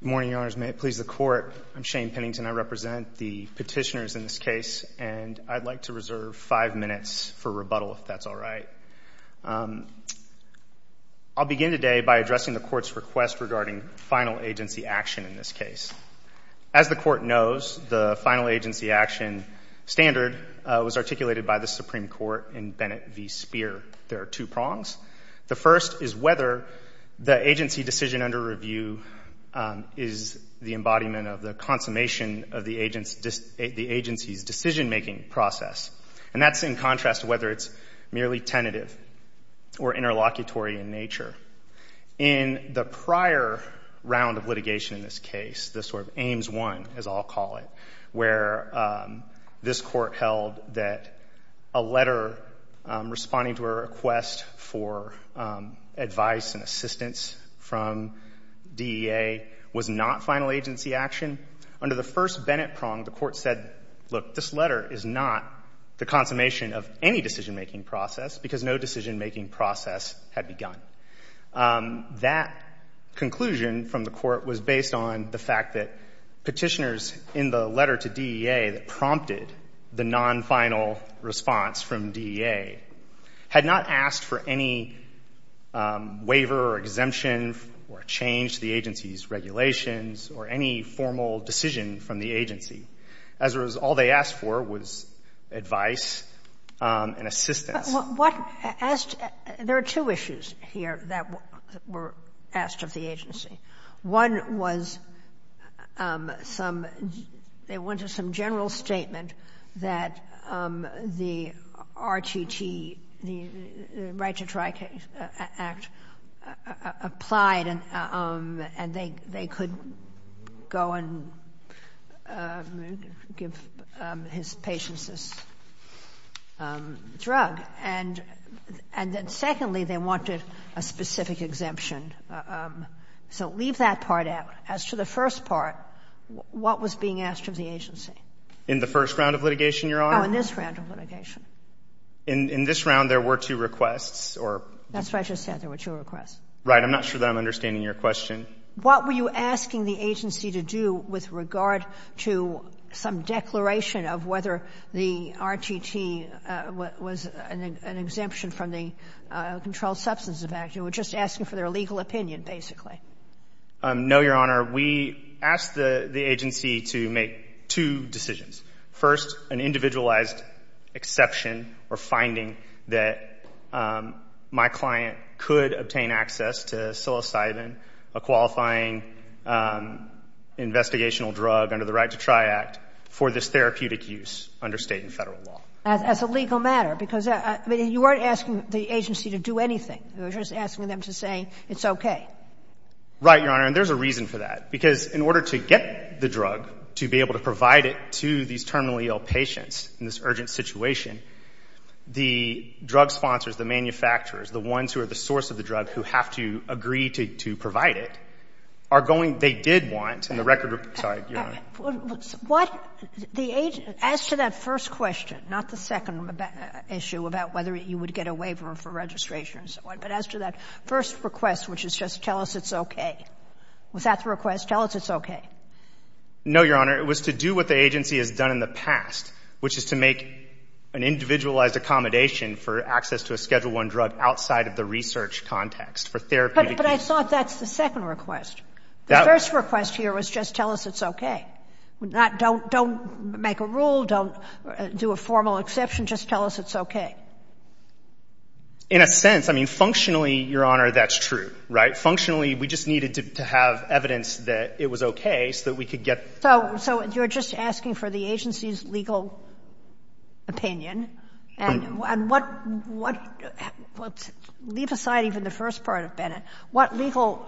Good morning, Your Honors. May it please the Court, I'm Shane Pennington. I represent the petitioners in this case, and I'd like to reserve five minutes for rebuttal, if that's all right. I'll begin today by addressing the Court's request regarding final agency action in this case. As the Court knows, the final agency action standard was articulated by the Supreme Court in Bennett v. Speer. There are two prongs. The first is whether the agency decision under review is the embodiment of the consummation of the agency's decision-making process. And that's in contrast to whether it's merely tentative or interlocutory in nature. In the prior round of litigation in this case, the sort of Ames I, as I'll call it, where this Court held that a letter responding to a request for advice and assistance from DEA was not final agency action, under the first Bennett prong, the Court said, look, this letter is not the consummation of any decision-making process because no decision-making process had begun. That conclusion from the Court was based on the fact that petitioners in the letter to DEA that prompted the non-final response from DEA had not asked for any waiver or exemption or change to the agency's regulations or any formal decision from the agency. As a result, all they asked for was advice and assistance. What asked — there are two issues here that were asked of the agency. One was some — they wanted some general statement that the RTT, the Right to Try Act, applied and they could go and give his patients this drug. And then secondly, they wanted a specific exemption. So leave that part out. As to the first part, what was being asked of the agency? In the first round of litigation, Your Honor? Oh, in this round of litigation. In this round, there were two requests or — That's what I just said. There were two requests. Right. I'm not sure that I'm understanding your question. What were you asking the agency to do with regard to some declaration of whether the RTT was an exemption from the Controlled Substances Act? You were just asking for their legal opinion, basically. No, Your Honor. We asked the agency to make two decisions. First, an individualized exception or finding that my client could obtain access to psilocybin, a qualifying investigational drug under the Right to Try Act, for this therapeutic use under State and Federal law. As a legal matter, because — I mean, you weren't asking the agency to do anything. You were just asking them to say it's okay. Right, Your Honor. And there's a reason for that. Because in order to get the drug, to be able to provide it to these terminally ill patients in this urgent situation, the drug sponsors, the manufacturers, the ones who are the source of the drug, who have to agree to provide it, are going — they did want, in the record — sorry, Your Honor. What the — as to that first question, not the second issue about whether you would get a waiver for registration and so on, but as to that first request, which is just tell us it's okay. Was that the request, tell us it's okay? No, Your Honor. It was to do what the agency has done in the past, which is to make an individualized accommodation for access to a Schedule I drug outside of the research context for therapeutic use. But I thought that's the second request. The first request here was just tell us it's okay. Not don't make a rule, don't do a formal exception, just tell us it's okay. In a sense. I mean, functionally, Your Honor, that's true. Right? Functionally, we just needed to have evidence that it was okay so that we could get — So you're just asking for the agency's legal opinion. And what — leave aside even the first part of Bennett. What legal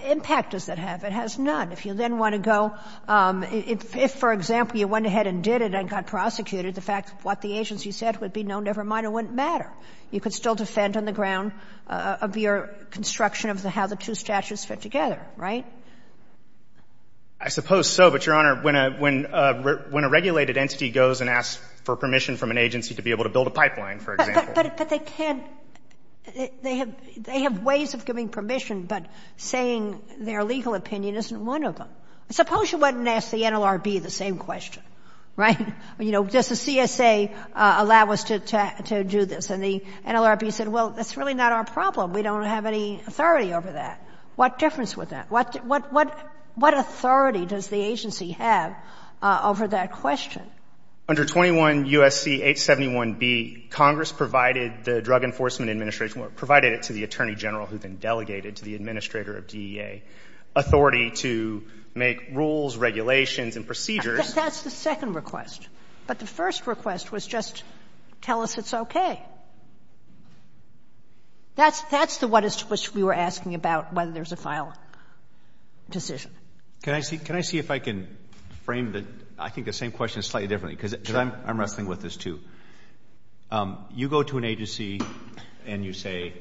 impact does that have? It has none. If you then want to go — if, for example, you went ahead and did it and got prosecuted, the fact of what the agency said would be no, never mind, it wouldn't matter. You could still defend on the ground of your construction of how the two statutes fit together. Right? I suppose so. But, Your Honor, when a regulated entity goes and asks for permission from an agency to be able to build a pipeline, for example. But they can't — they have ways of giving permission, but saying their legal opinion isn't one of them. Suppose you went and asked the NLRB the same question. Right? You know, does the CSA allow us to do this? And the NLRB said, well, that's really not our problem. We don't have any authority over that. What difference would that — what authority does the agency have over that question? Under 21 U.S.C. 871b, Congress provided the Drug Enforcement Administration — provided it to the Attorney General who then delegated to the administrator of DEA authority to make rules, regulations, and procedures. That's the second request. But the first request was just tell us it's okay. That's the one to which we were asking about whether there's a filing decision. Can I see — can I see if I can frame the — I think the same question slightly differently, because I'm wrestling with this, too. You go to an agency and you say,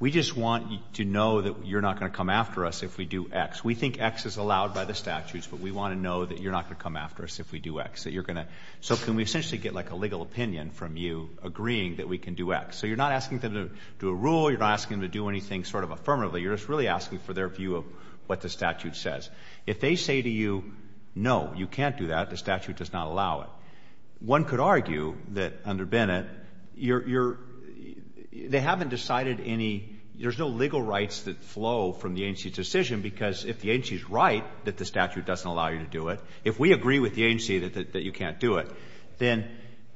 we just want to know that you're not going to come after us if we do X. We think X is allowed by the statutes, but we want to know that you're not going to come after us if we do X, that you're going to — so can we essentially get, like, a legal opinion from you agreeing that we can do X? So you're not asking them to do a rule. You're not asking them to do anything sort of affirmatively. You're just really asking for their view of what the statute says. If they say to you, no, you can't do that, the statute does not allow it, one could argue that under Bennett, you're — they haven't decided any — there's no legal rights that flow from the agency's decision, because if the agency is right that the statute doesn't allow you to do it, if we agree with the agency that you can't do it, then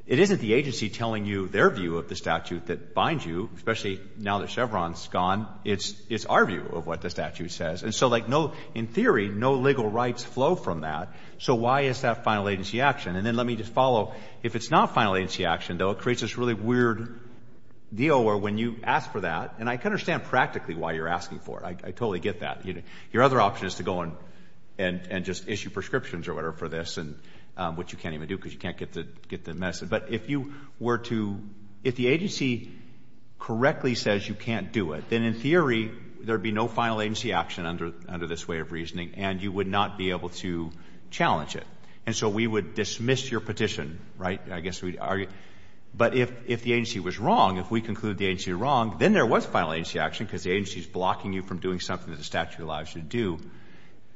it isn't the agency telling you their view of the statute that binds you, especially now that Chevron's gone. It's our view of what the statute says. And so, like, no — in theory, no legal rights flow from that. So why is that final agency action? And then let me just follow. If it's not final agency action, though, it creates this really weird deal where when you ask for that — and I can understand practically why you're asking for it. I totally get that. Your other option is to go and just issue prescriptions or whatever for this, which you can't even do because you can't get the message. But if you were to — if the agency correctly says you can't do it, then in theory there would be no final agency action under this way of reasoning, and you would not be able to challenge it. And so we would dismiss your petition, right? I guess we'd argue. But if the agency was wrong, if we conclude the agency was wrong, then there was final agency action because the agency is blocking you from doing something that the statute allows you to do.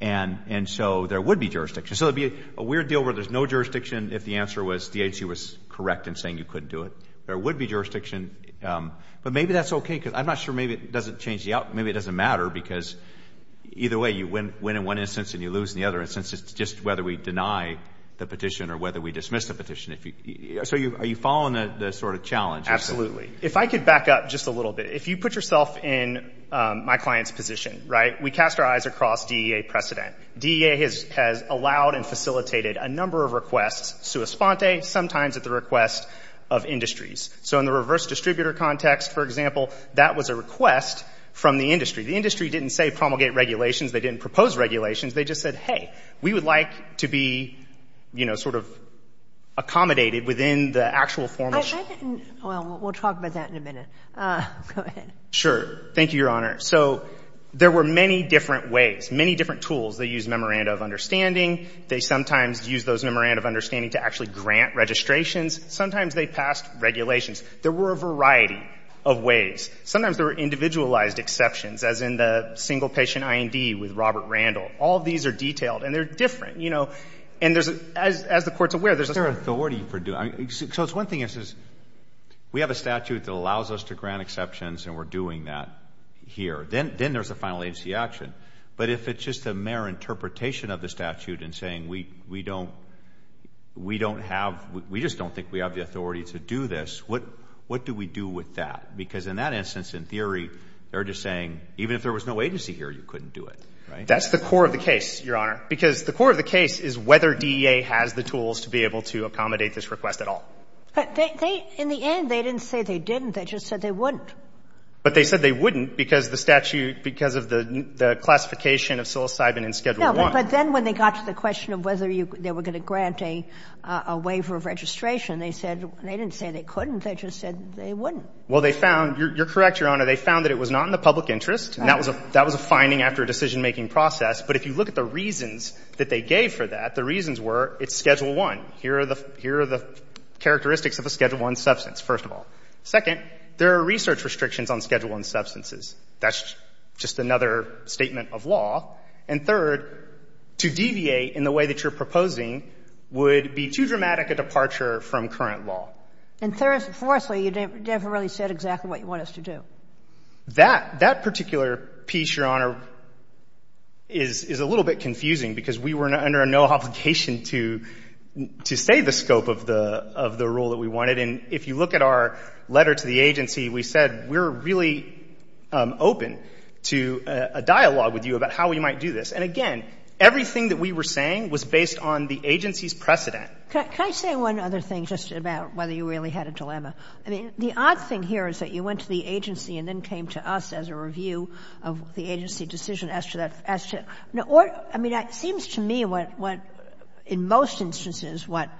And so there would be jurisdiction. So it would be a weird deal where there's no jurisdiction if the answer was the agency was correct in saying you couldn't do it. There would be jurisdiction, but maybe that's okay because I'm not sure maybe it doesn't change the outcome. Maybe it doesn't matter because either way, you win in one instance and you lose in the other instance. It's just whether we deny the petition or whether we dismiss the petition. So are you following the sort of challenge? Absolutely. If I could back up just a little bit. If you put yourself in my client's position, right? We cast our eyes across DEA precedent. DEA has allowed and facilitated a number of requests, sua sponte, sometimes at the request of industries. So in the reverse distributor context, for example, that was a request from the industry. The industry didn't say promulgate regulations. They didn't propose regulations. They just said, hey, we would like to be, you know, sort of accommodated within the actual formal. Well, we'll talk about that in a minute. Go ahead. Sure. Thank you, Your Honor. So there were many different ways, many different tools. They used memoranda of understanding. They sometimes used those memoranda of understanding to actually grant registrations. Sometimes they passed regulations. There were a variety of ways. Sometimes there were individualized exceptions, as in the single patient IND with Robert Randall. All of these are detailed, and they're different. You know, and there's, as the Court's aware, there's a certain authority for doing it. So it's one thing if it says we have a statute that allows us to grant exceptions and we're doing that here. Then there's a final agency action. But if it's just a mere interpretation of the statute and saying we don't have, we just don't think we have the authority to do this, what do we do with that? Because in that instance, in theory, they're just saying even if there was no agency here, you couldn't do it, right? That's the core of the case, Your Honor. Because the core of the case is whether DEA has the tools to be able to accommodate this request at all. But they, in the end, they didn't say they didn't. They just said they wouldn't. But they said they wouldn't because the statute, because of the classification of psilocybin in Schedule I. No, but then when they got to the question of whether they were going to grant a waiver of registration, they said, they didn't say they couldn't. They just said they wouldn't. Well, they found, you're correct, Your Honor, they found that it was not in the public interest. And that was a finding after a decision-making process. But if you look at the reasons that they gave for that, the reasons were it's Schedule I. Here are the characteristics of a Schedule I substance, first of all. Second, there are research restrictions on Schedule I substances. That's just another statement of law. And third, to deviate in the way that you're proposing would be too dramatic a departure from current law. And fourthly, you never really said exactly what you want us to do. That particular piece, Your Honor, is a little bit confusing because we were under no obligation to say the scope of the rule that we wanted. And if you look at our letter to the agency, we said we're really open to a dialogue with you about how we might do this. And again, everything that we were saying was based on the agency's precedent. Can I say one other thing just about whether you really had a dilemma? I mean, the odd thing here is that you went to the agency and then came to us as a review of the agency decision as to that, as to the order. I mean, it seems to me what, in most instances, what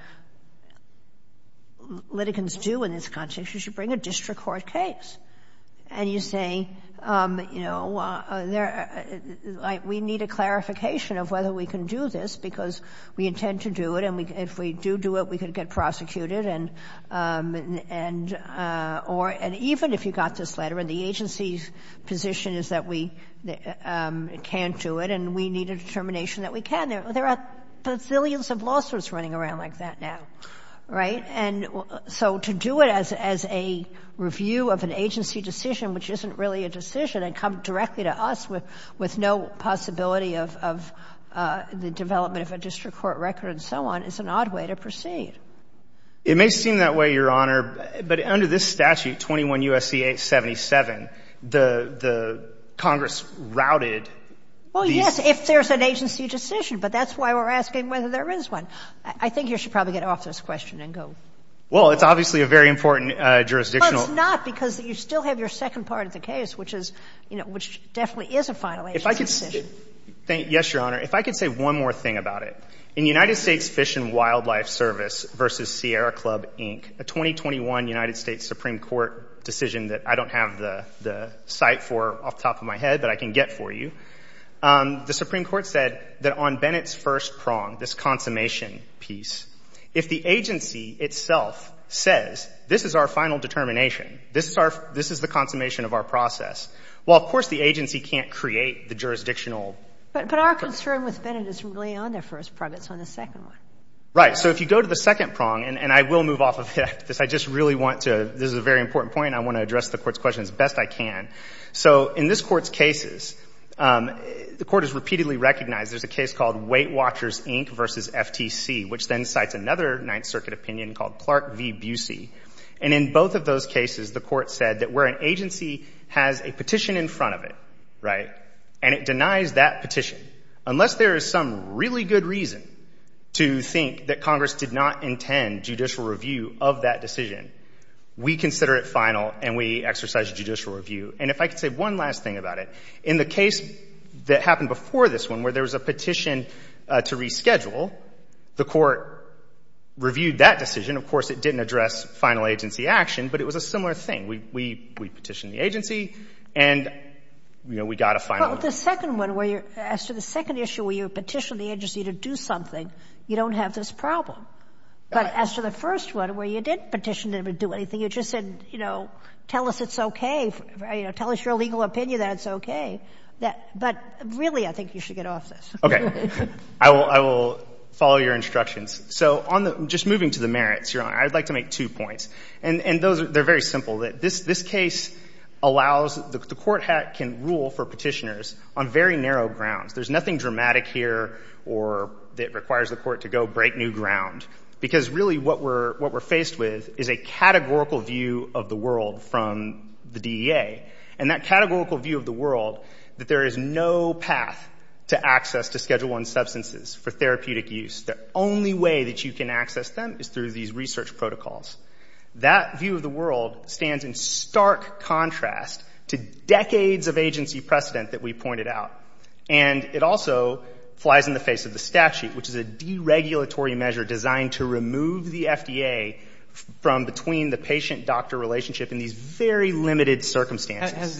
litigants do in this context is you bring a district court case, and you say, you know, we need a clarification of whether we can do this because we intend to do it, and if we do do it, we could get prosecuted, and even if you got this letter and the agency's position is that we can't do it and we need a determination that we can, there are bazillions of lawsuits running around like that now, right? And so to do it as a review of an agency decision which isn't really a decision and come directly to us with no possibility of the development of a district court record and so on is an odd way to proceed. It may seem that way, Your Honor, but under this statute, 21 U.S.C.A. 77, the Congress routed these. Well, yes, if there's an agency decision, but that's why we're asking whether there is one. I think you should probably get off this question and go. Well, it's obviously a very important jurisdictional. Well, it's not because you still have your second part of the case, which is, you know, which definitely is a final agency decision. Yes, Your Honor. If I could say one more thing about it. In United States Fish and Wildlife Service v. Sierra Club, Inc., a 2021 United States Supreme Court decision that I don't have the cite for off the top of my head but I can get for you, the Supreme Court said that on Bennett's first prong, this consummation piece, if the agency itself says this is our final determination, this is the consummation of our process, well, of course the agency can't create the jurisdictional. But our concern with Bennett is really on their first prong. It's on the second one. Right. So if you go to the second prong, and I will move off of it after this. I just really want to, this is a very important point, I want to address the Court's question as best I can. So in this Court's cases, the Court has repeatedly recognized there's a case called Weight Watchers, Inc. v. FTC, which then cites another Ninth Circuit opinion called Clark v. Busey. And in both of those cases, the Court said that where an agency has a petition in effect and it denies that petition, unless there is some really good reason to think that Congress did not intend judicial review of that decision, we consider it final and we exercise judicial review. And if I could say one last thing about it, in the case that happened before this one where there was a petition to reschedule, the Court reviewed that decision. Of course, it didn't address final agency action, but it was a similar thing. We petitioned the agency and, you know, we got a final. Well, the second one where you're, as to the second issue where you petitioned the agency to do something, you don't have this problem. But as to the first one where you didn't petition to do anything, you just said, you know, tell us it's okay, you know, tell us your legal opinion that it's okay. But really, I think you should get off this. Okay. I will follow your instructions. So on the, just moving to the merits, Your Honor, I would like to make two points. And those, they're very simple. This case allows, the Court can rule for petitioners on very narrow grounds. There's nothing dramatic here or that requires the Court to go break new ground. Because really what we're faced with is a categorical view of the world from the DEA. And that categorical view of the world, that there is no path to access to Schedule I substances for therapeutic use. The only way that you can access them is through these research protocols. That view of the world stands in stark contrast to decades of agency precedent that we pointed out. And it also flies in the face of the statute, which is a deregulatory measure designed to remove the FDA from between the patient-doctor relationship in these very limited circumstances. Has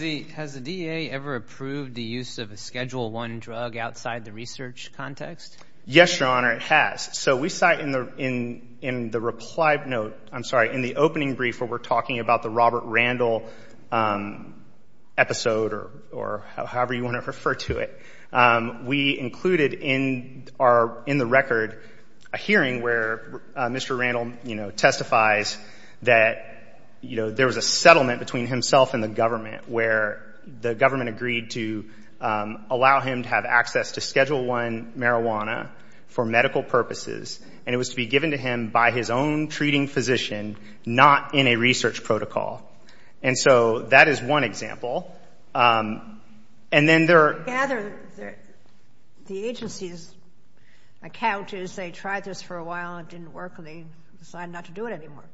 the DEA ever approved the use of a Schedule I drug outside the research context? Yes, Your Honor, it has. So we cite in the reply note, I'm sorry, in the opening brief where we're talking about the Robert Randall episode or however you want to refer to it. We included in our, in the record, a hearing where Mr. Randall, you know, testifies that, you know, there was a settlement between himself and the government where the government agreed to allow him to have access to Schedule I marijuana for medical purposes. And it was to be given to him by his own treating physician, not in a research protocol. And so that is one example. And then there are other, the agency's account is they tried this for a while and it didn't work and they decided not to do it anymore.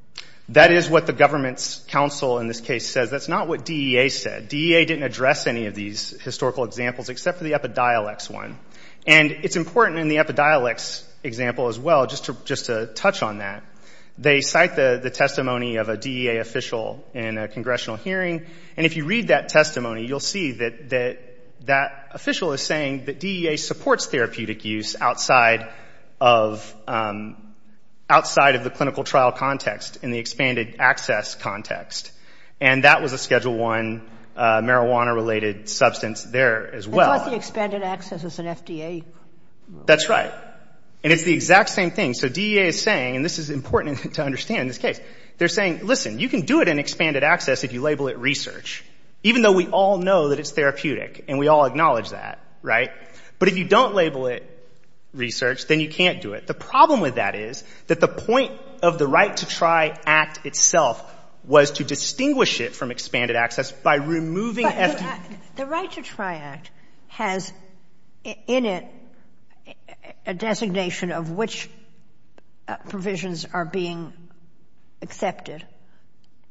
That is what the government's counsel in this case says. That's not what DEA said. DEA didn't address any of these historical examples except for the Epidiolex one. And it's important in the Epidiolex example as well just to touch on that. They cite the testimony of a DEA official in a congressional hearing. And if you read that testimony, you'll see that that official is saying that DEA supports therapeutic use outside of the clinical trial context in the expanded access context. And that was a Schedule I marijuana-related substance there as well. It's not the expanded access. It's an FDA. That's right. And it's the exact same thing. So DEA is saying, and this is important to understand in this case, they're saying, listen, you can do it in expanded access if you label it research, even though we all know that it's therapeutic and we all acknowledge that, right? But if you don't label it research, then you can't do it. The problem with that is that the point of the Right to Try Act itself was to distinguish it from expanded access by removing FDA. But the Right to Try Act has in it a designation of which provisions are being accepted.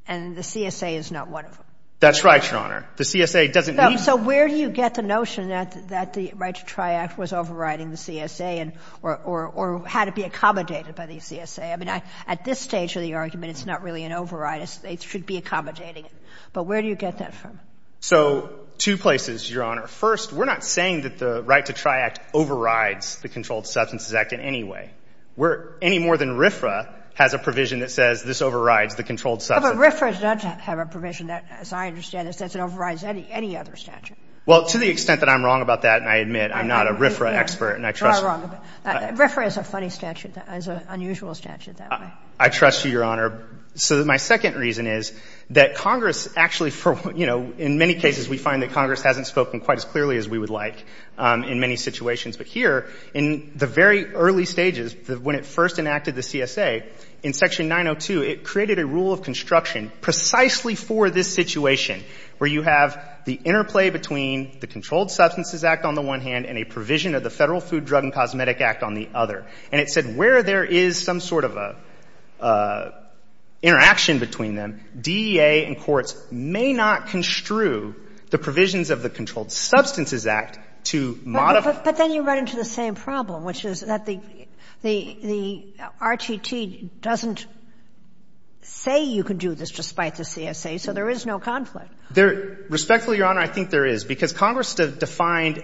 And the CSA is not one of them. That's right, Your Honor. The CSA doesn't need to. So where do you get the notion that the Right to Try Act was overriding the CSA or had to be accommodated by the CSA? I mean, at this stage of the argument, it's not really an override. It should be accommodating. But where do you get that from? So two places, Your Honor. First, we're not saying that the Right to Try Act overrides the Controlled Substances Act in any way. We're any more than RFRA has a provision that says this overrides the controlled substance. But RFRA does not have a provision that, as I understand it, says it overrides any other statute. Well, to the extent that I'm wrong about that, and I admit I'm not a RFRA expert and I trust— You are wrong. RFRA is a funny statute. It's an unusual statute that way. I trust you, Your Honor. So my second reason is that Congress actually for, you know, in many cases we find that Congress hasn't spoken quite as clearly as we would like in many situations. But here, in the very early stages, when it first enacted the CSA, in Section 902, it created a rule of construction precisely for this situation, where you have the interplay between the Controlled Substances Act on the one hand and a provision of the Federal Food, Drug, and Cosmetic Act on the other. And it said where there is some sort of a interaction between them, DEA and courts may not construe the provisions of the Controlled Substances Act to modify— But then you run into the same problem, which is that the RTT doesn't say you can do this despite the CSA, so there is no conflict. Respectfully, Your Honor, I think there is, because Congress defined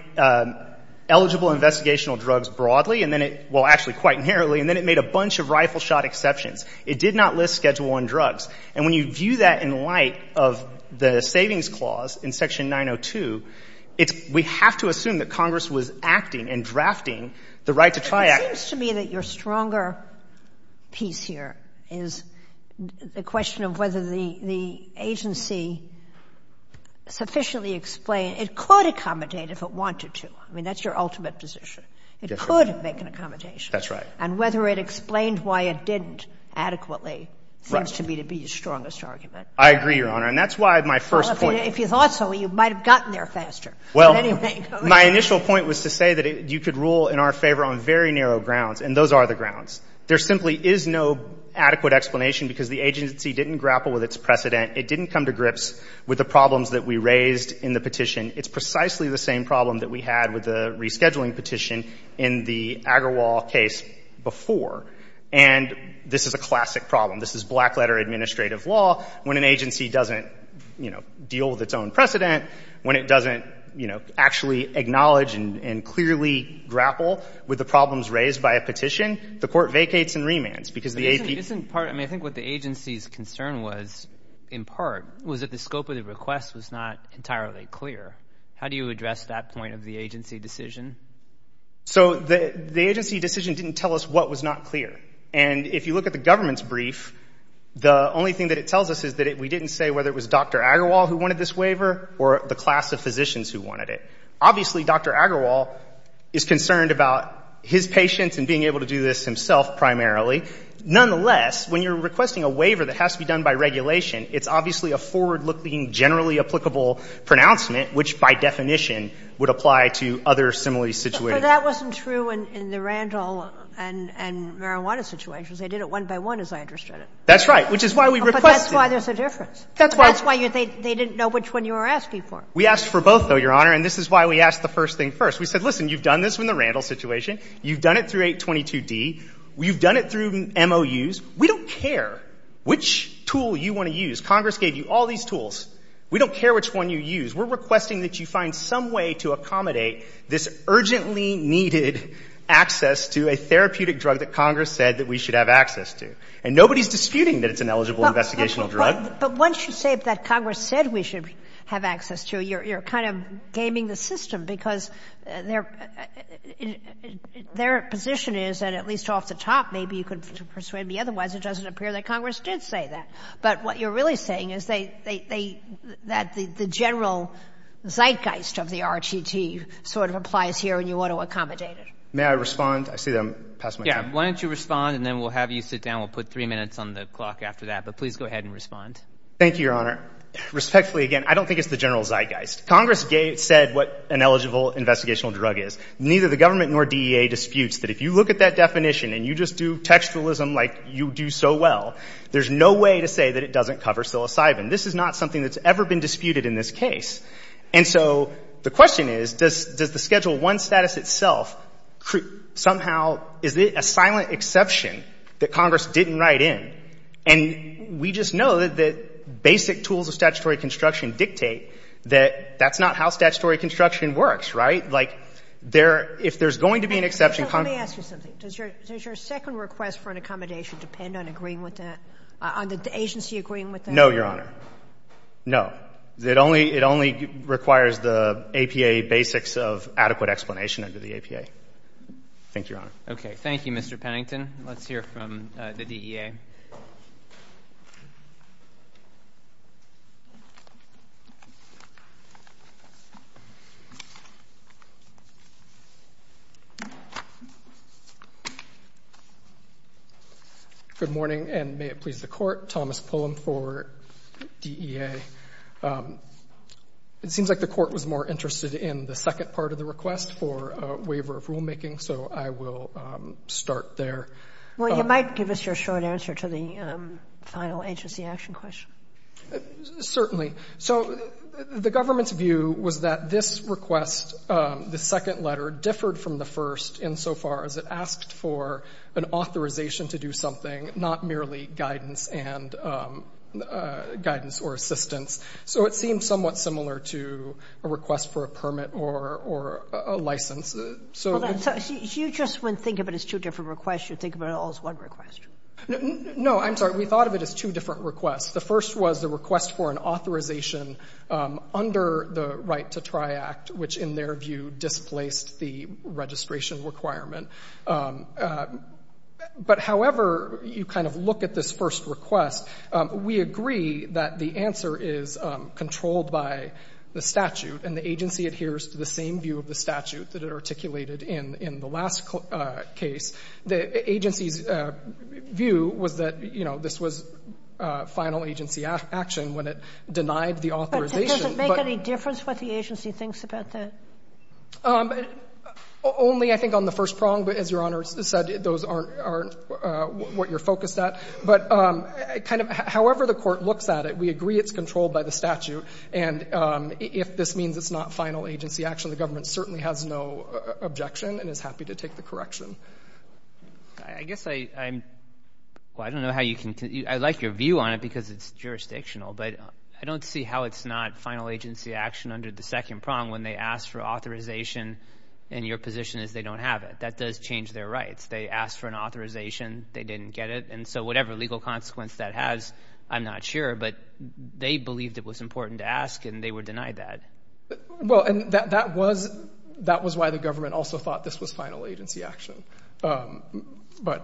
eligible investigational drugs broadly, and then it — well, actually quite narrowly, and then it made a bunch of rifle-shot exceptions. It did not list Schedule I drugs. And when you view that in light of the savings clause in Section 902, it's — we have to assume that Congress was acting and drafting the right to try— But it seems to me that your stronger piece here is the question of whether the agency sufficiently explained — it could accommodate if it wanted to. I mean, that's your ultimate position. It could make an accommodation. That's right. And whether it explained why it didn't adequately seems to me to be the strongest argument. I agree, Your Honor. And that's why my first point— Well, if you thought so, you might have gotten there faster. Well, my initial point was to say that you could rule in our favor on very narrow grounds, and those are the grounds. There simply is no adequate explanation because the agency didn't grapple with its own precedent. It didn't come to grips with the problems that we raised in the petition. It's precisely the same problem that we had with the rescheduling petition in the Agarwal case before. And this is a classic problem. This is black-letter administrative law. When an agency doesn't, you know, deal with its own precedent, when it doesn't, you know, actually acknowledge and clearly grapple with the problems raised by a petition, the court vacates and remands because the AP— was that the scope of the request was not entirely clear. How do you address that point of the agency decision? So the agency decision didn't tell us what was not clear. And if you look at the government's brief, the only thing that it tells us is that we didn't say whether it was Dr. Agarwal who wanted this waiver or the class of physicians who wanted it. Obviously, Dr. Agarwal is concerned about his patients and being able to do this himself primarily. Nonetheless, when you're requesting a waiver that has to be done by regulation, it's obviously a forward-looking, generally applicable pronouncement, which, by definition, would apply to other similarly situated— But that wasn't true in the Randall and marijuana situations. They did it one by one, as I understood it. That's right, which is why we requested— But that's why there's a difference. That's why— That's why they didn't know which one you were asking for. We asked for both, though, Your Honor. And this is why we asked the first thing first. We said, listen, you've done this in the Randall situation. You've done it through 822d. You've done it through MOUs. We don't care which tool you want to use. Congress gave you all these tools. We don't care which one you use. We're requesting that you find some way to accommodate this urgently needed access to a therapeutic drug that Congress said that we should have access to. And nobody's disputing that it's an eligible investigational drug. But once you say that Congress said we should have access to, you're kind of gaming the system, because their position is, and at least off the top, maybe you can persuade me otherwise. It doesn't appear that Congress did say that. But what you're really saying is that the general zeitgeist of the RTT sort of applies here, and you ought to accommodate it. May I respond? I see that I'm past my time. Yeah. Why don't you respond, and then we'll have you sit down. We'll put 3 minutes on the clock after that. But please go ahead and respond. Thank you, Your Honor. Respectfully, again, I don't think it's the general zeitgeist. Congress said what an eligible investigational drug is. Neither the government nor DEA disputes that if you look at that definition and you just do textualism like you do so well, there's no way to say that it doesn't cover psilocybin. This is not something that's ever been disputed in this case. And so the question is, does the Schedule I status itself somehow, is it a silent exception that Congress didn't write in? And we just know that basic tools of statutory construction dictate that that's not how statutory construction works, right? Like, there — if there's going to be an exception, Congress — Let me ask you something. Does your second request for an accommodation depend on agreeing with that, on the agency agreeing with that? No, Your Honor. No. It only requires the APA basics of adequate explanation under the APA. Thank you, Your Honor. Okay. Thank you, Mr. Pennington. Let's hear from the DEA. Good morning, and may it please the Court. Thomas Pullum for DEA. It seems like the Court was more interested in the second part of the request for a waiver of rulemaking, so I will start there. Well, you might give us your short answer to the final agency action question. So the government's view was that this request, the second letter, differed from the first insofar as it asked for an authorization to do something, not merely guidance and — guidance or assistance. So it seems somewhat similar to a request for a permit or a license. So — So you just wouldn't think of it as two different requests. You would think of it all as one request. No. I'm sorry. We thought of it as two different requests. The first was the request for an authorization under the Right to Try Act, which, in their view, displaced the registration requirement. But however you kind of look at this first request, we agree that the answer is controlled by the statute, and the agency adheres to the same view of the statute that it articulated in the last case. The agency's view was that, you know, this was final agency action when it denied the authorization, but — But does it make any difference what the agency thinks about that? Only, I think, on the first prong, but as Your Honor said, those aren't what you're focused at. But kind of however the court looks at it, we agree it's controlled by the statute. And if this means it's not final agency action, the government certainly has no objection and is happy to take the correction. I guess I'm — well, I don't know how you can — I like your view on it because it's jurisdictional, but I don't see how it's not final agency action under the second prong when they ask for authorization and your position is they don't have it. That does change their rights. They asked for an authorization. They didn't get it. And so whatever legal consequence that has, I'm not sure. But they believed it was important to ask and they were denied that. Well, and that was — that was why the government also thought this was final agency action. But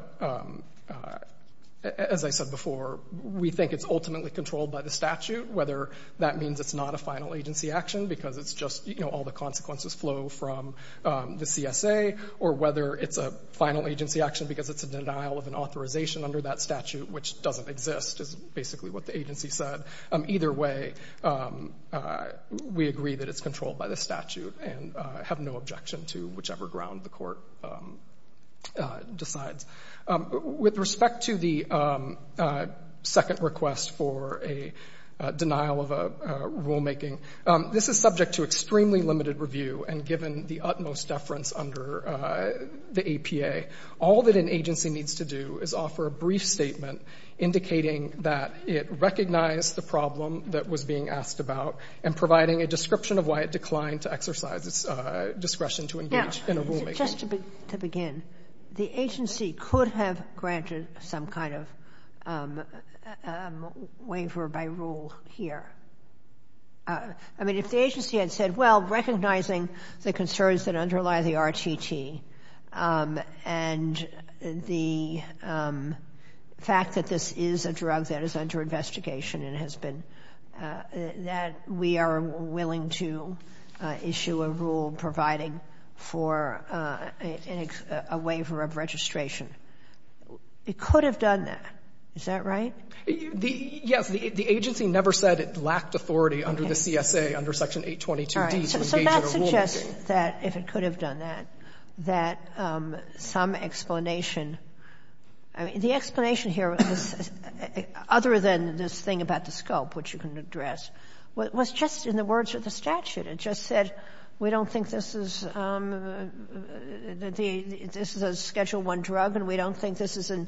as I said before, we think it's ultimately controlled by the statute, whether that means it's not a final agency action because it's just, you know, all the consequences flow from the CSA or whether it's a final agency action because it's a denial of an authorization under that statute, which doesn't exist, is basically what the agency said. Either way, we agree that it's controlled by the statute and have no objection to whichever ground the court decides. With respect to the second request for a denial of a rulemaking, this is subject to extremely limited review and given the utmost deference under the APA. All that an agency needs to do is offer a brief statement indicating that it recognized the problem that was being asked about and providing a description of why it declined to exercise its discretion to engage in a rulemaking. Now, just to begin, the agency could have granted some kind of waiver by rule here. I mean, if the agency had said, well, recognizing the concerns that underlie the RTT and the fact that this is a drug that is under investigation and has been, that we are willing to issue a rule providing for a waiver of registration, it could have done that. Is that right? Yes. The agency never said it lacked authority under the CSA under Section 822d to engage in a rulemaking. Sotomayor So that suggests that, if it could have done that, that some explanation, I mean, the explanation here, other than this thing about the scope, which you can address, was just in the words of the statute. It just said we don't think this is a Schedule I drug and we don't think this is in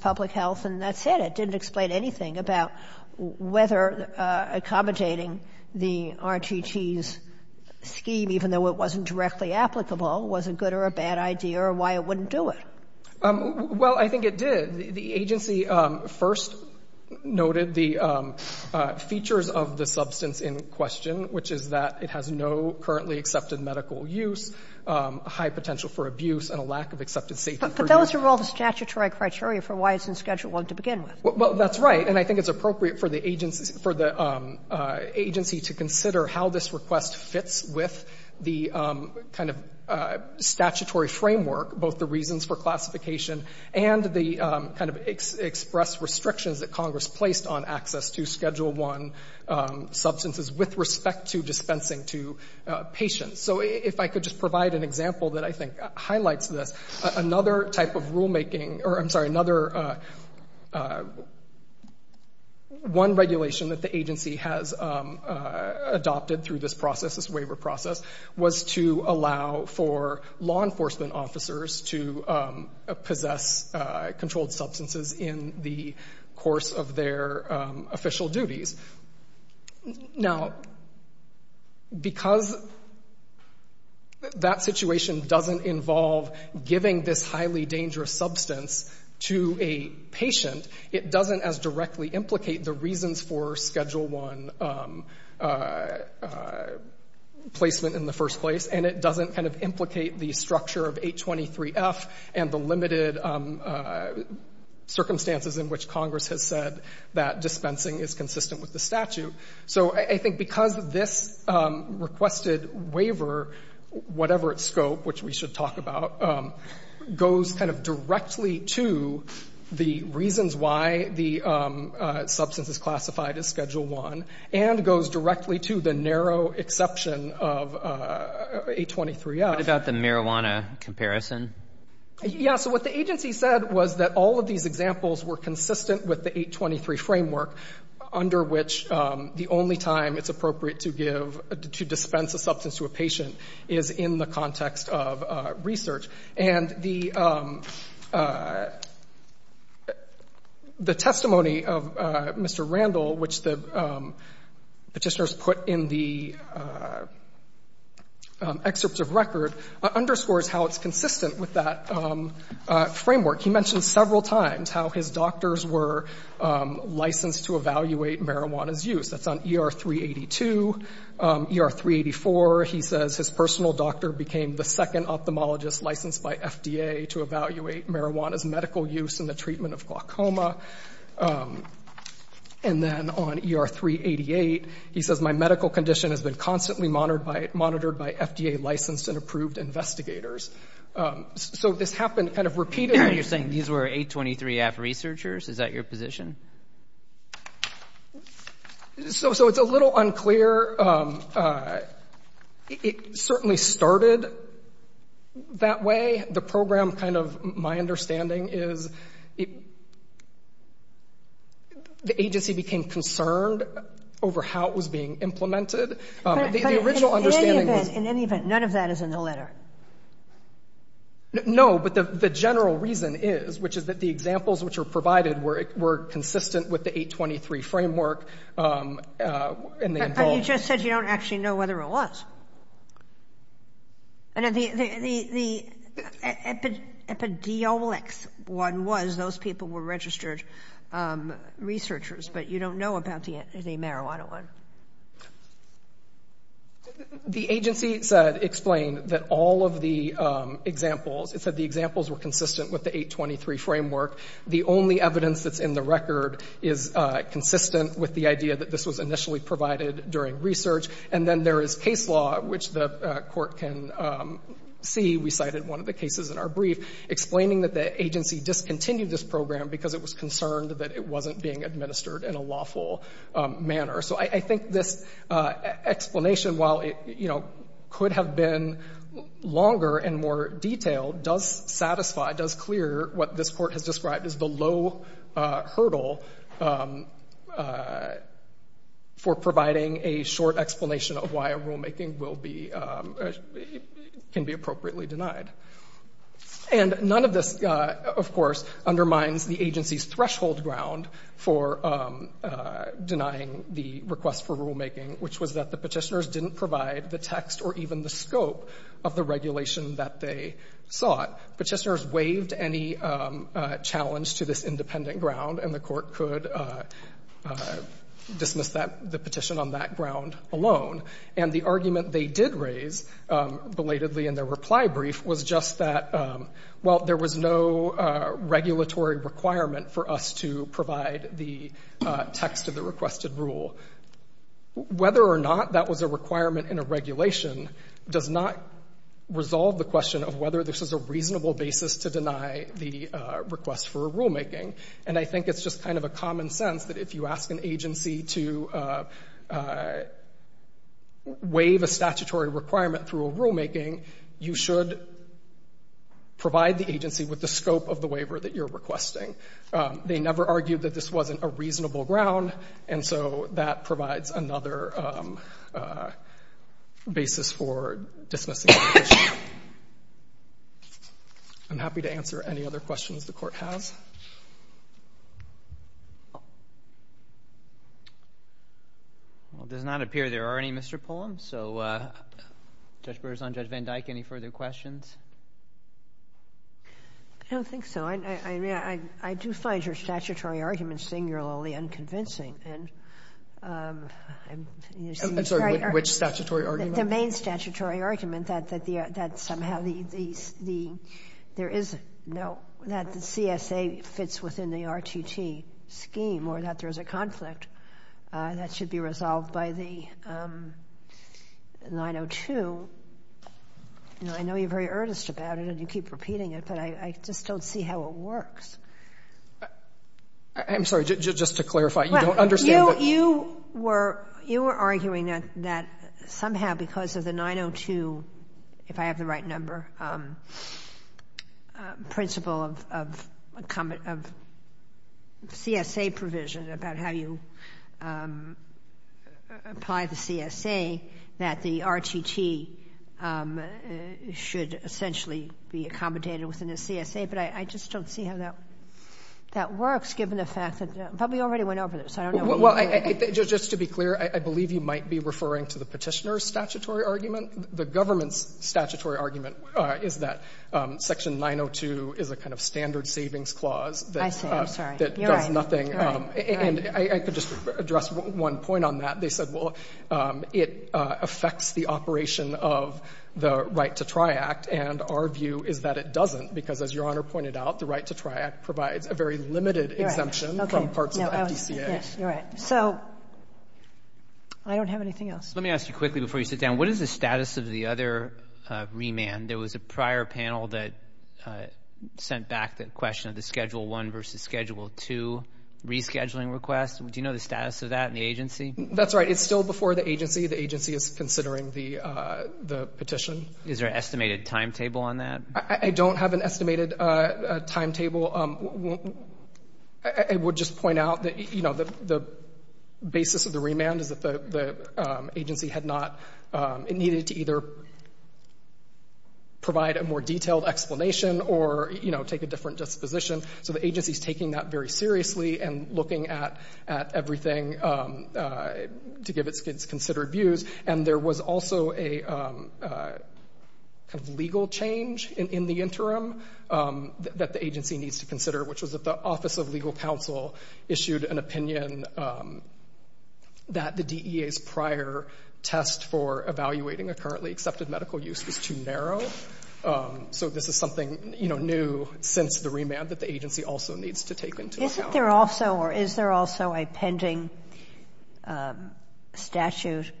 public health, and that's it. It didn't explain anything about whether accommodating the RTT's scheme, even though it wasn't directly applicable, was a good or a bad idea or why it wouldn't do it. Well, I think it did. The agency first noted the features of the substance in question, which is that it has no currently accepted medical use, high potential for abuse, and a lack of accepted safety for use. But those are all the statutory criteria for why it's in Schedule I to begin with. Well, that's right. And I think it's appropriate for the agency to consider how this request fits with the kind of statutory framework, both the reasons for classification and the kind of express restrictions that Congress placed on access to Schedule I substances with respect to dispensing to patients. So if I could just provide an example that I think highlights this. Another type of rulemaking, or I'm sorry, another one regulation that the agency has adopted through this process, this waiver process, was to allow for law enforcement officers to possess controlled substances in the course of their official duties. Now, because that situation doesn't involve giving this highly dangerous substance to a patient, it doesn't as directly implicate the reasons for Schedule I placement in the first place, and it doesn't kind of implicate the structure of 823F and the circumstances in which Congress has said that dispensing is consistent with the statute. So I think because this requested waiver, whatever its scope, which we should talk about, goes kind of directly to the reasons why the substance is classified as Schedule I and goes directly to the narrow exception of 823F. What about the marijuana comparison? Yeah, so what the agency said was that all of these examples were consistent with the 823 framework, under which the only time it's appropriate to dispense a substance to a patient is in the context of research. And the testimony of Mr. Randall, which the petitioners put in the excerpts of record, underscores how it's consistent with that framework. He mentioned several times how his doctors were licensed to evaluate marijuana's use. That's on ER 382. ER 384, he says his personal doctor became the second ophthalmologist licensed by FDA to evaluate marijuana's medical use in the treatment of glaucoma. And then on ER 388, he says my medical condition has been constantly monitored by FDA-licensed and approved investigators. So this happened kind of repeatedly. You're saying these were 823F researchers? Is that your position? So it's a little unclear. It certainly started that way. The program kind of, my understanding is the agency became concerned over how it was being implemented. But in any event, none of that is in the letter? No, but the general reason is, which is that the examples which are provided were consistent with the 823 framework. And you just said you don't actually know whether it was. The epiduralics one was those people were registered researchers, but you don't know about the marijuana one. The agency said, explained that all of the examples, it said the examples were consistent with the 823 framework. The only evidence that's in the record is consistent with the idea that this was initially provided during research. And then there is case law, which the court can see. We cited one of the cases in our brief, explaining that the agency discontinued this program because it was concerned that it wasn't being administered in a lawful manner. So I think this explanation, while it could have been longer and more detailed, does satisfy, does clear what this court has described as the low hurdle for providing a short explanation of why a rulemaking can be appropriately denied. And none of this, of course, undermines the agency's threshold ground for denying the request for rulemaking, which was that the petitioners didn't provide the text or even the scope of the regulation that they sought. Petitioners waived any challenge to this independent ground, and the court could dismiss the petition on that ground alone. And the argument they did raise, belatedly in their reply brief, was just that, well, there was no regulatory requirement for us to provide the text of the requested rule. Whether or not that was a requirement in a regulation does not resolve the question of whether this is a reasonable basis to deny the request for a rulemaking. And I think it's just kind of a common sense that if you ask an agency to waive a statutory requirement through a rulemaking, you should provide the agency with the scope of the waiver that you're requesting. They never argued that this wasn't a reasonable ground, and so that provides another basis for dismissing the petition. I'm happy to answer any other questions the Court has. Well, it does not appear there are any, Mr. Pullum. So, Judge Brewer's on. Judge Van Dyke, any further questions? I don't think so. I mean, I do find your statutory argument singularly unconvincing. I'm sorry. Which statutory argument? The main statutory argument that somehow there is no, that the CSA fits within the RTT scheme or that there's a conflict that should be resolved by the 902. I know you're very earnest about it and you keep repeating it, but I just don't see how it works. I'm sorry. Just to clarify. You don't understand that? You were arguing that somehow because of the 902, if I have the right number, principle of CSA provision about how you apply the CSA, that the RTT should essentially be accommodated within the CSA, but I just don't see how that works given the fact that we already went over this. I don't know. Well, just to be clear, I believe you might be referring to the Petitioner's statutory argument. The government's statutory argument is that Section 902 is a kind of standard savings clause that does nothing. And I could just address one point on that. They said, well, it affects the operation of the Right to Try Act, and our view is that it doesn't because, as Your Honor pointed out, the Right to Try Act provides a very limited exemption from parts of the FDCA. Yes, you're right. So I don't have anything else. Let me ask you quickly before you sit down. What is the status of the other remand? There was a prior panel that sent back the question of the Schedule I versus Schedule II rescheduling request. Do you know the status of that in the agency? That's right. It's still before the agency. The agency is considering the petition. Is there an estimated timetable on that? I don't have an estimated timetable. I would just point out that, you know, the basis of the remand is that the agency had not needed to either provide a more detailed explanation or, you know, take a different disposition. So the agency is taking that very seriously and looking at everything to give its considered views. And there was also a kind of legal change in the interim that the agency needs to consider, which was that the Office of Legal Counsel issued an opinion that the DEA's prior test for evaluating a currently accepted medical use was too narrow. So this is something, you know, new since the remand that the agency also needs to take into account. Isn't there also or is there also a pending statute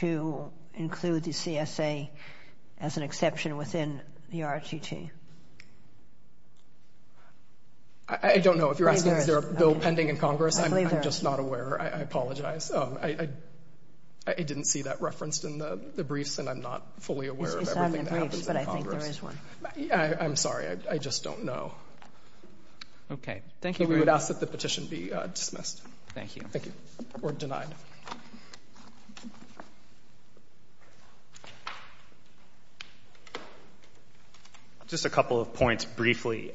to include the CSA as an exception within the RTT? I don't know. If you're asking is there a bill pending in Congress, I'm just not aware. I apologize. I didn't see that referenced in the briefs and I'm not fully aware of everything that happens in Congress. It's not in the briefs, but I think there is one. I'm sorry. I just don't know. Okay. Thank you very much. We would ask that the petition be dismissed. Thank you. Thank you. Or denied. Just a couple of points briefly.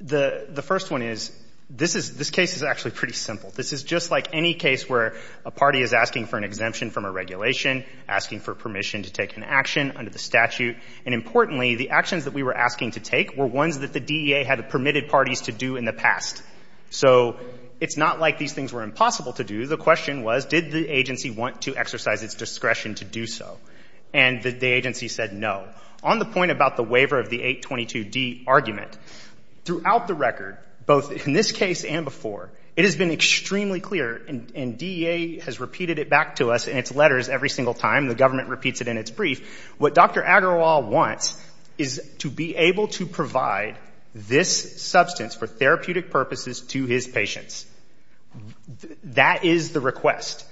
The first one is this case is actually pretty simple. This is just like any case where a party is asking for an exemption from a regulation, asking for permission to take an action under the statute, and importantly, the actions that we were asking to take were ones that the DEA had permitted parties to do in the past. So it's not like these things were impossible to do. The question was did the agency want to exercise its discretion to do so? And the agency said no. On the point about the waiver of the 822D argument, throughout the record, both in this case and before, it has been extremely clear, and DEA has repeated it back to us in its letters every single time. The government repeats it in its brief. What Dr. Agarwal wants is to be able to provide this substance for therapeutic purposes to his patients. That is the request.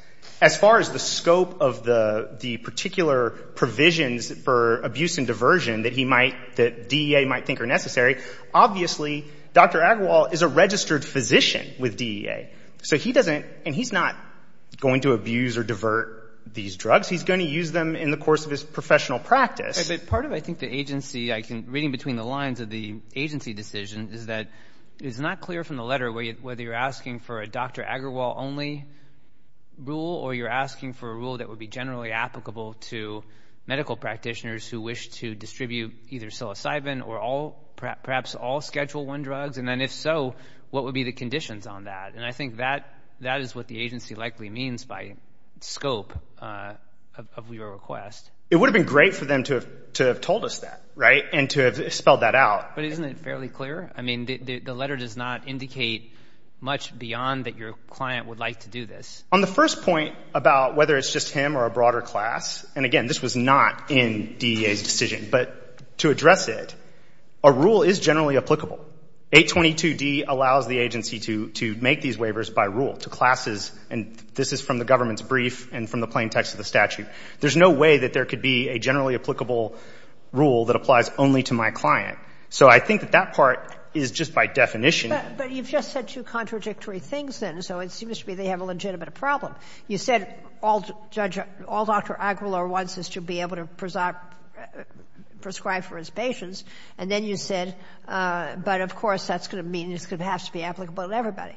As far as the scope of the particular provisions for abuse and diversion that he might, that DEA might think are necessary, obviously, Dr. Agarwal is a registered physician with DEA. So he doesn't, and he's not going to abuse or divert these drugs. He's going to use them in the course of his professional practice. But part of, I think, the agency, reading between the lines of the agency decision is that it's not clear from the letter whether you're asking for a Dr. Agarwal-only rule or you're asking for a rule that would be generally applicable to medical practitioners who wish to distribute either psilocybin or perhaps all Schedule I drugs. And then, if so, what would be the conditions on that? And I think that is what the agency likely means by scope of your request. It would have been great for them to have told us that, right, and to have spelled that out. But isn't it fairly clear? I mean, the letter does not indicate much beyond that your client would like to do this. On the first point about whether it's just him or a broader class, and, again, this was not in DEA's decision. But to address it, a rule is generally applicable. 822D allows the agency to make these waivers by rule to classes, and this is from the government's brief and from the plain text of the statute. There's no way that there could be a generally applicable rule that applies only to my client. So I think that that part is just by definition. But you've just said two contradictory things then. So it seems to me they have a legitimate problem. You said all Dr. Aguilar wants is to be able to prescribe for his patients, and then you said, but, of course, that's going to mean it's going to have to be applicable to everybody.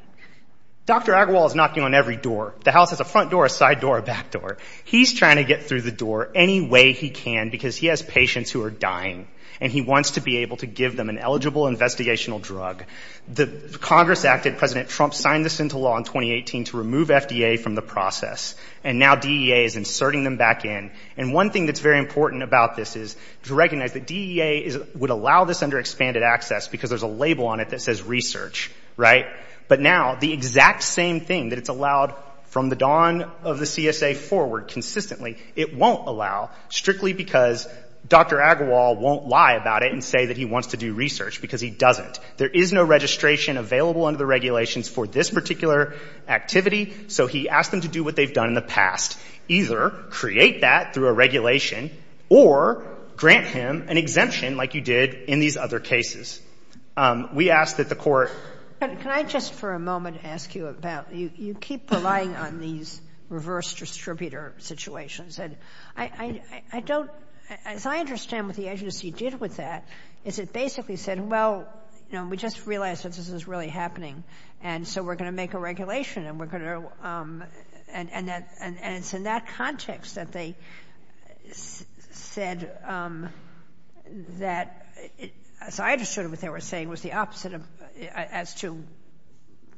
Dr. Aguilar is knocking on every door. The house has a front door, a side door, a back door. He's trying to get through the door any way he can because he has patients who are able to give them an eligible investigational drug. Congress acted, President Trump signed this into law in 2018 to remove FDA from the process. And now DEA is inserting them back in. And one thing that's very important about this is to recognize that DEA would allow this under expanded access because there's a label on it that says research, right? But now the exact same thing that it's allowed from the dawn of the CSA forward consistently, it won't allow strictly because Dr. Aguilar won't lie about it and say that he wants to do research because he doesn't. There is no registration available under the regulations for this particular activity. So he asked them to do what they've done in the past, either create that through a regulation or grant him an exemption like you did in these other cases. We ask that the Court — But can I just for a moment ask you about — you keep relying on these reverse distributor situations. I don't — as I understand what the agency did with that is it basically said, well, you know, we just realized that this is really happening, and so we're going to make a regulation and we're going to — and it's in that context that they said that, as I understood what they were saying, was the opposite of — as to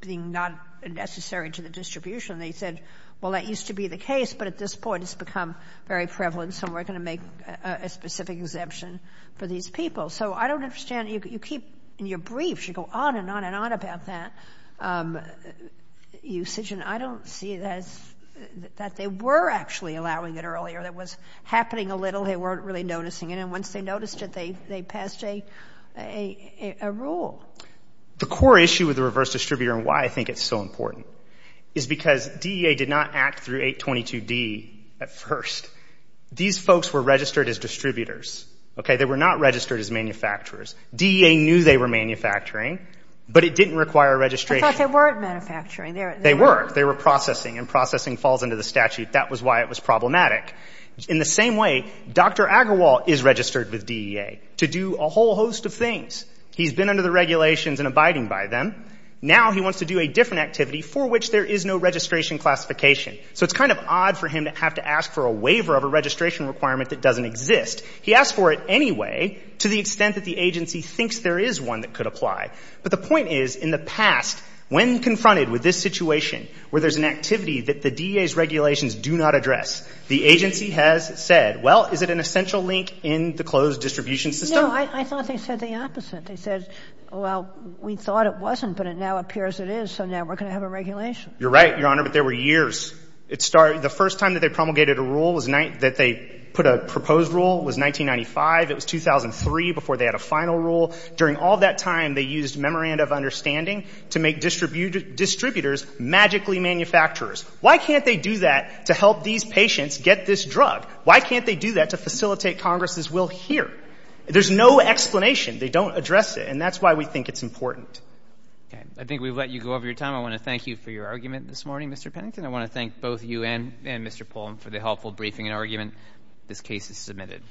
being not necessary to the distribution. They said, well, that used to be the case, but at this point it's become very prevalent, so we're going to make a specific exemption for these people. So I don't understand. You keep — in your briefs, you go on and on and on about that usage, and I don't see that they were actually allowing it earlier. It was happening a little. They weren't really noticing it. And once they noticed it, they passed a rule. The core issue with the reverse distributor and why I think it's so important is because DEA did not act through 822D at first. These folks were registered as distributors, okay? They were not registered as manufacturers. DEA knew they were manufacturing, but it didn't require registration. I thought they weren't manufacturing. They were. They were processing, and processing falls under the statute. That was why it was problematic. In the same way, Dr. Agarwal is registered with DEA to do a whole host of things. He's been under the regulations and abiding by them. Now he wants to do a different activity for which there is no registration classification. So it's kind of odd for him to have to ask for a waiver of a registration requirement that doesn't exist. He asked for it anyway to the extent that the agency thinks there is one that could apply. But the point is, in the past, when confronted with this situation where there's an activity that the DEA's regulations do not address, the agency has said, well, is it an essential link in the closed distribution system? No, I thought they said the opposite. They said, well, we thought it wasn't, but it now appears it is, so now we're going to have a regulation. You're right, Your Honor, but there were years. The first time that they promulgated a rule, that they put a proposed rule, was 1995. It was 2003 before they had a final rule. During all that time, they used memoranda of understanding to make distributors magically manufacturers. Why can't they do that to help these patients get this drug? Why can't they do that to facilitate Congress's will here? There's no explanation. They don't address it, and that's why we think it's important. Okay. I think we've let you go over your time. I want to thank you for your argument this morning, Mr. Pennington. I want to thank both you and Mr. Polam for the helpful briefing and argument. This case is submitted.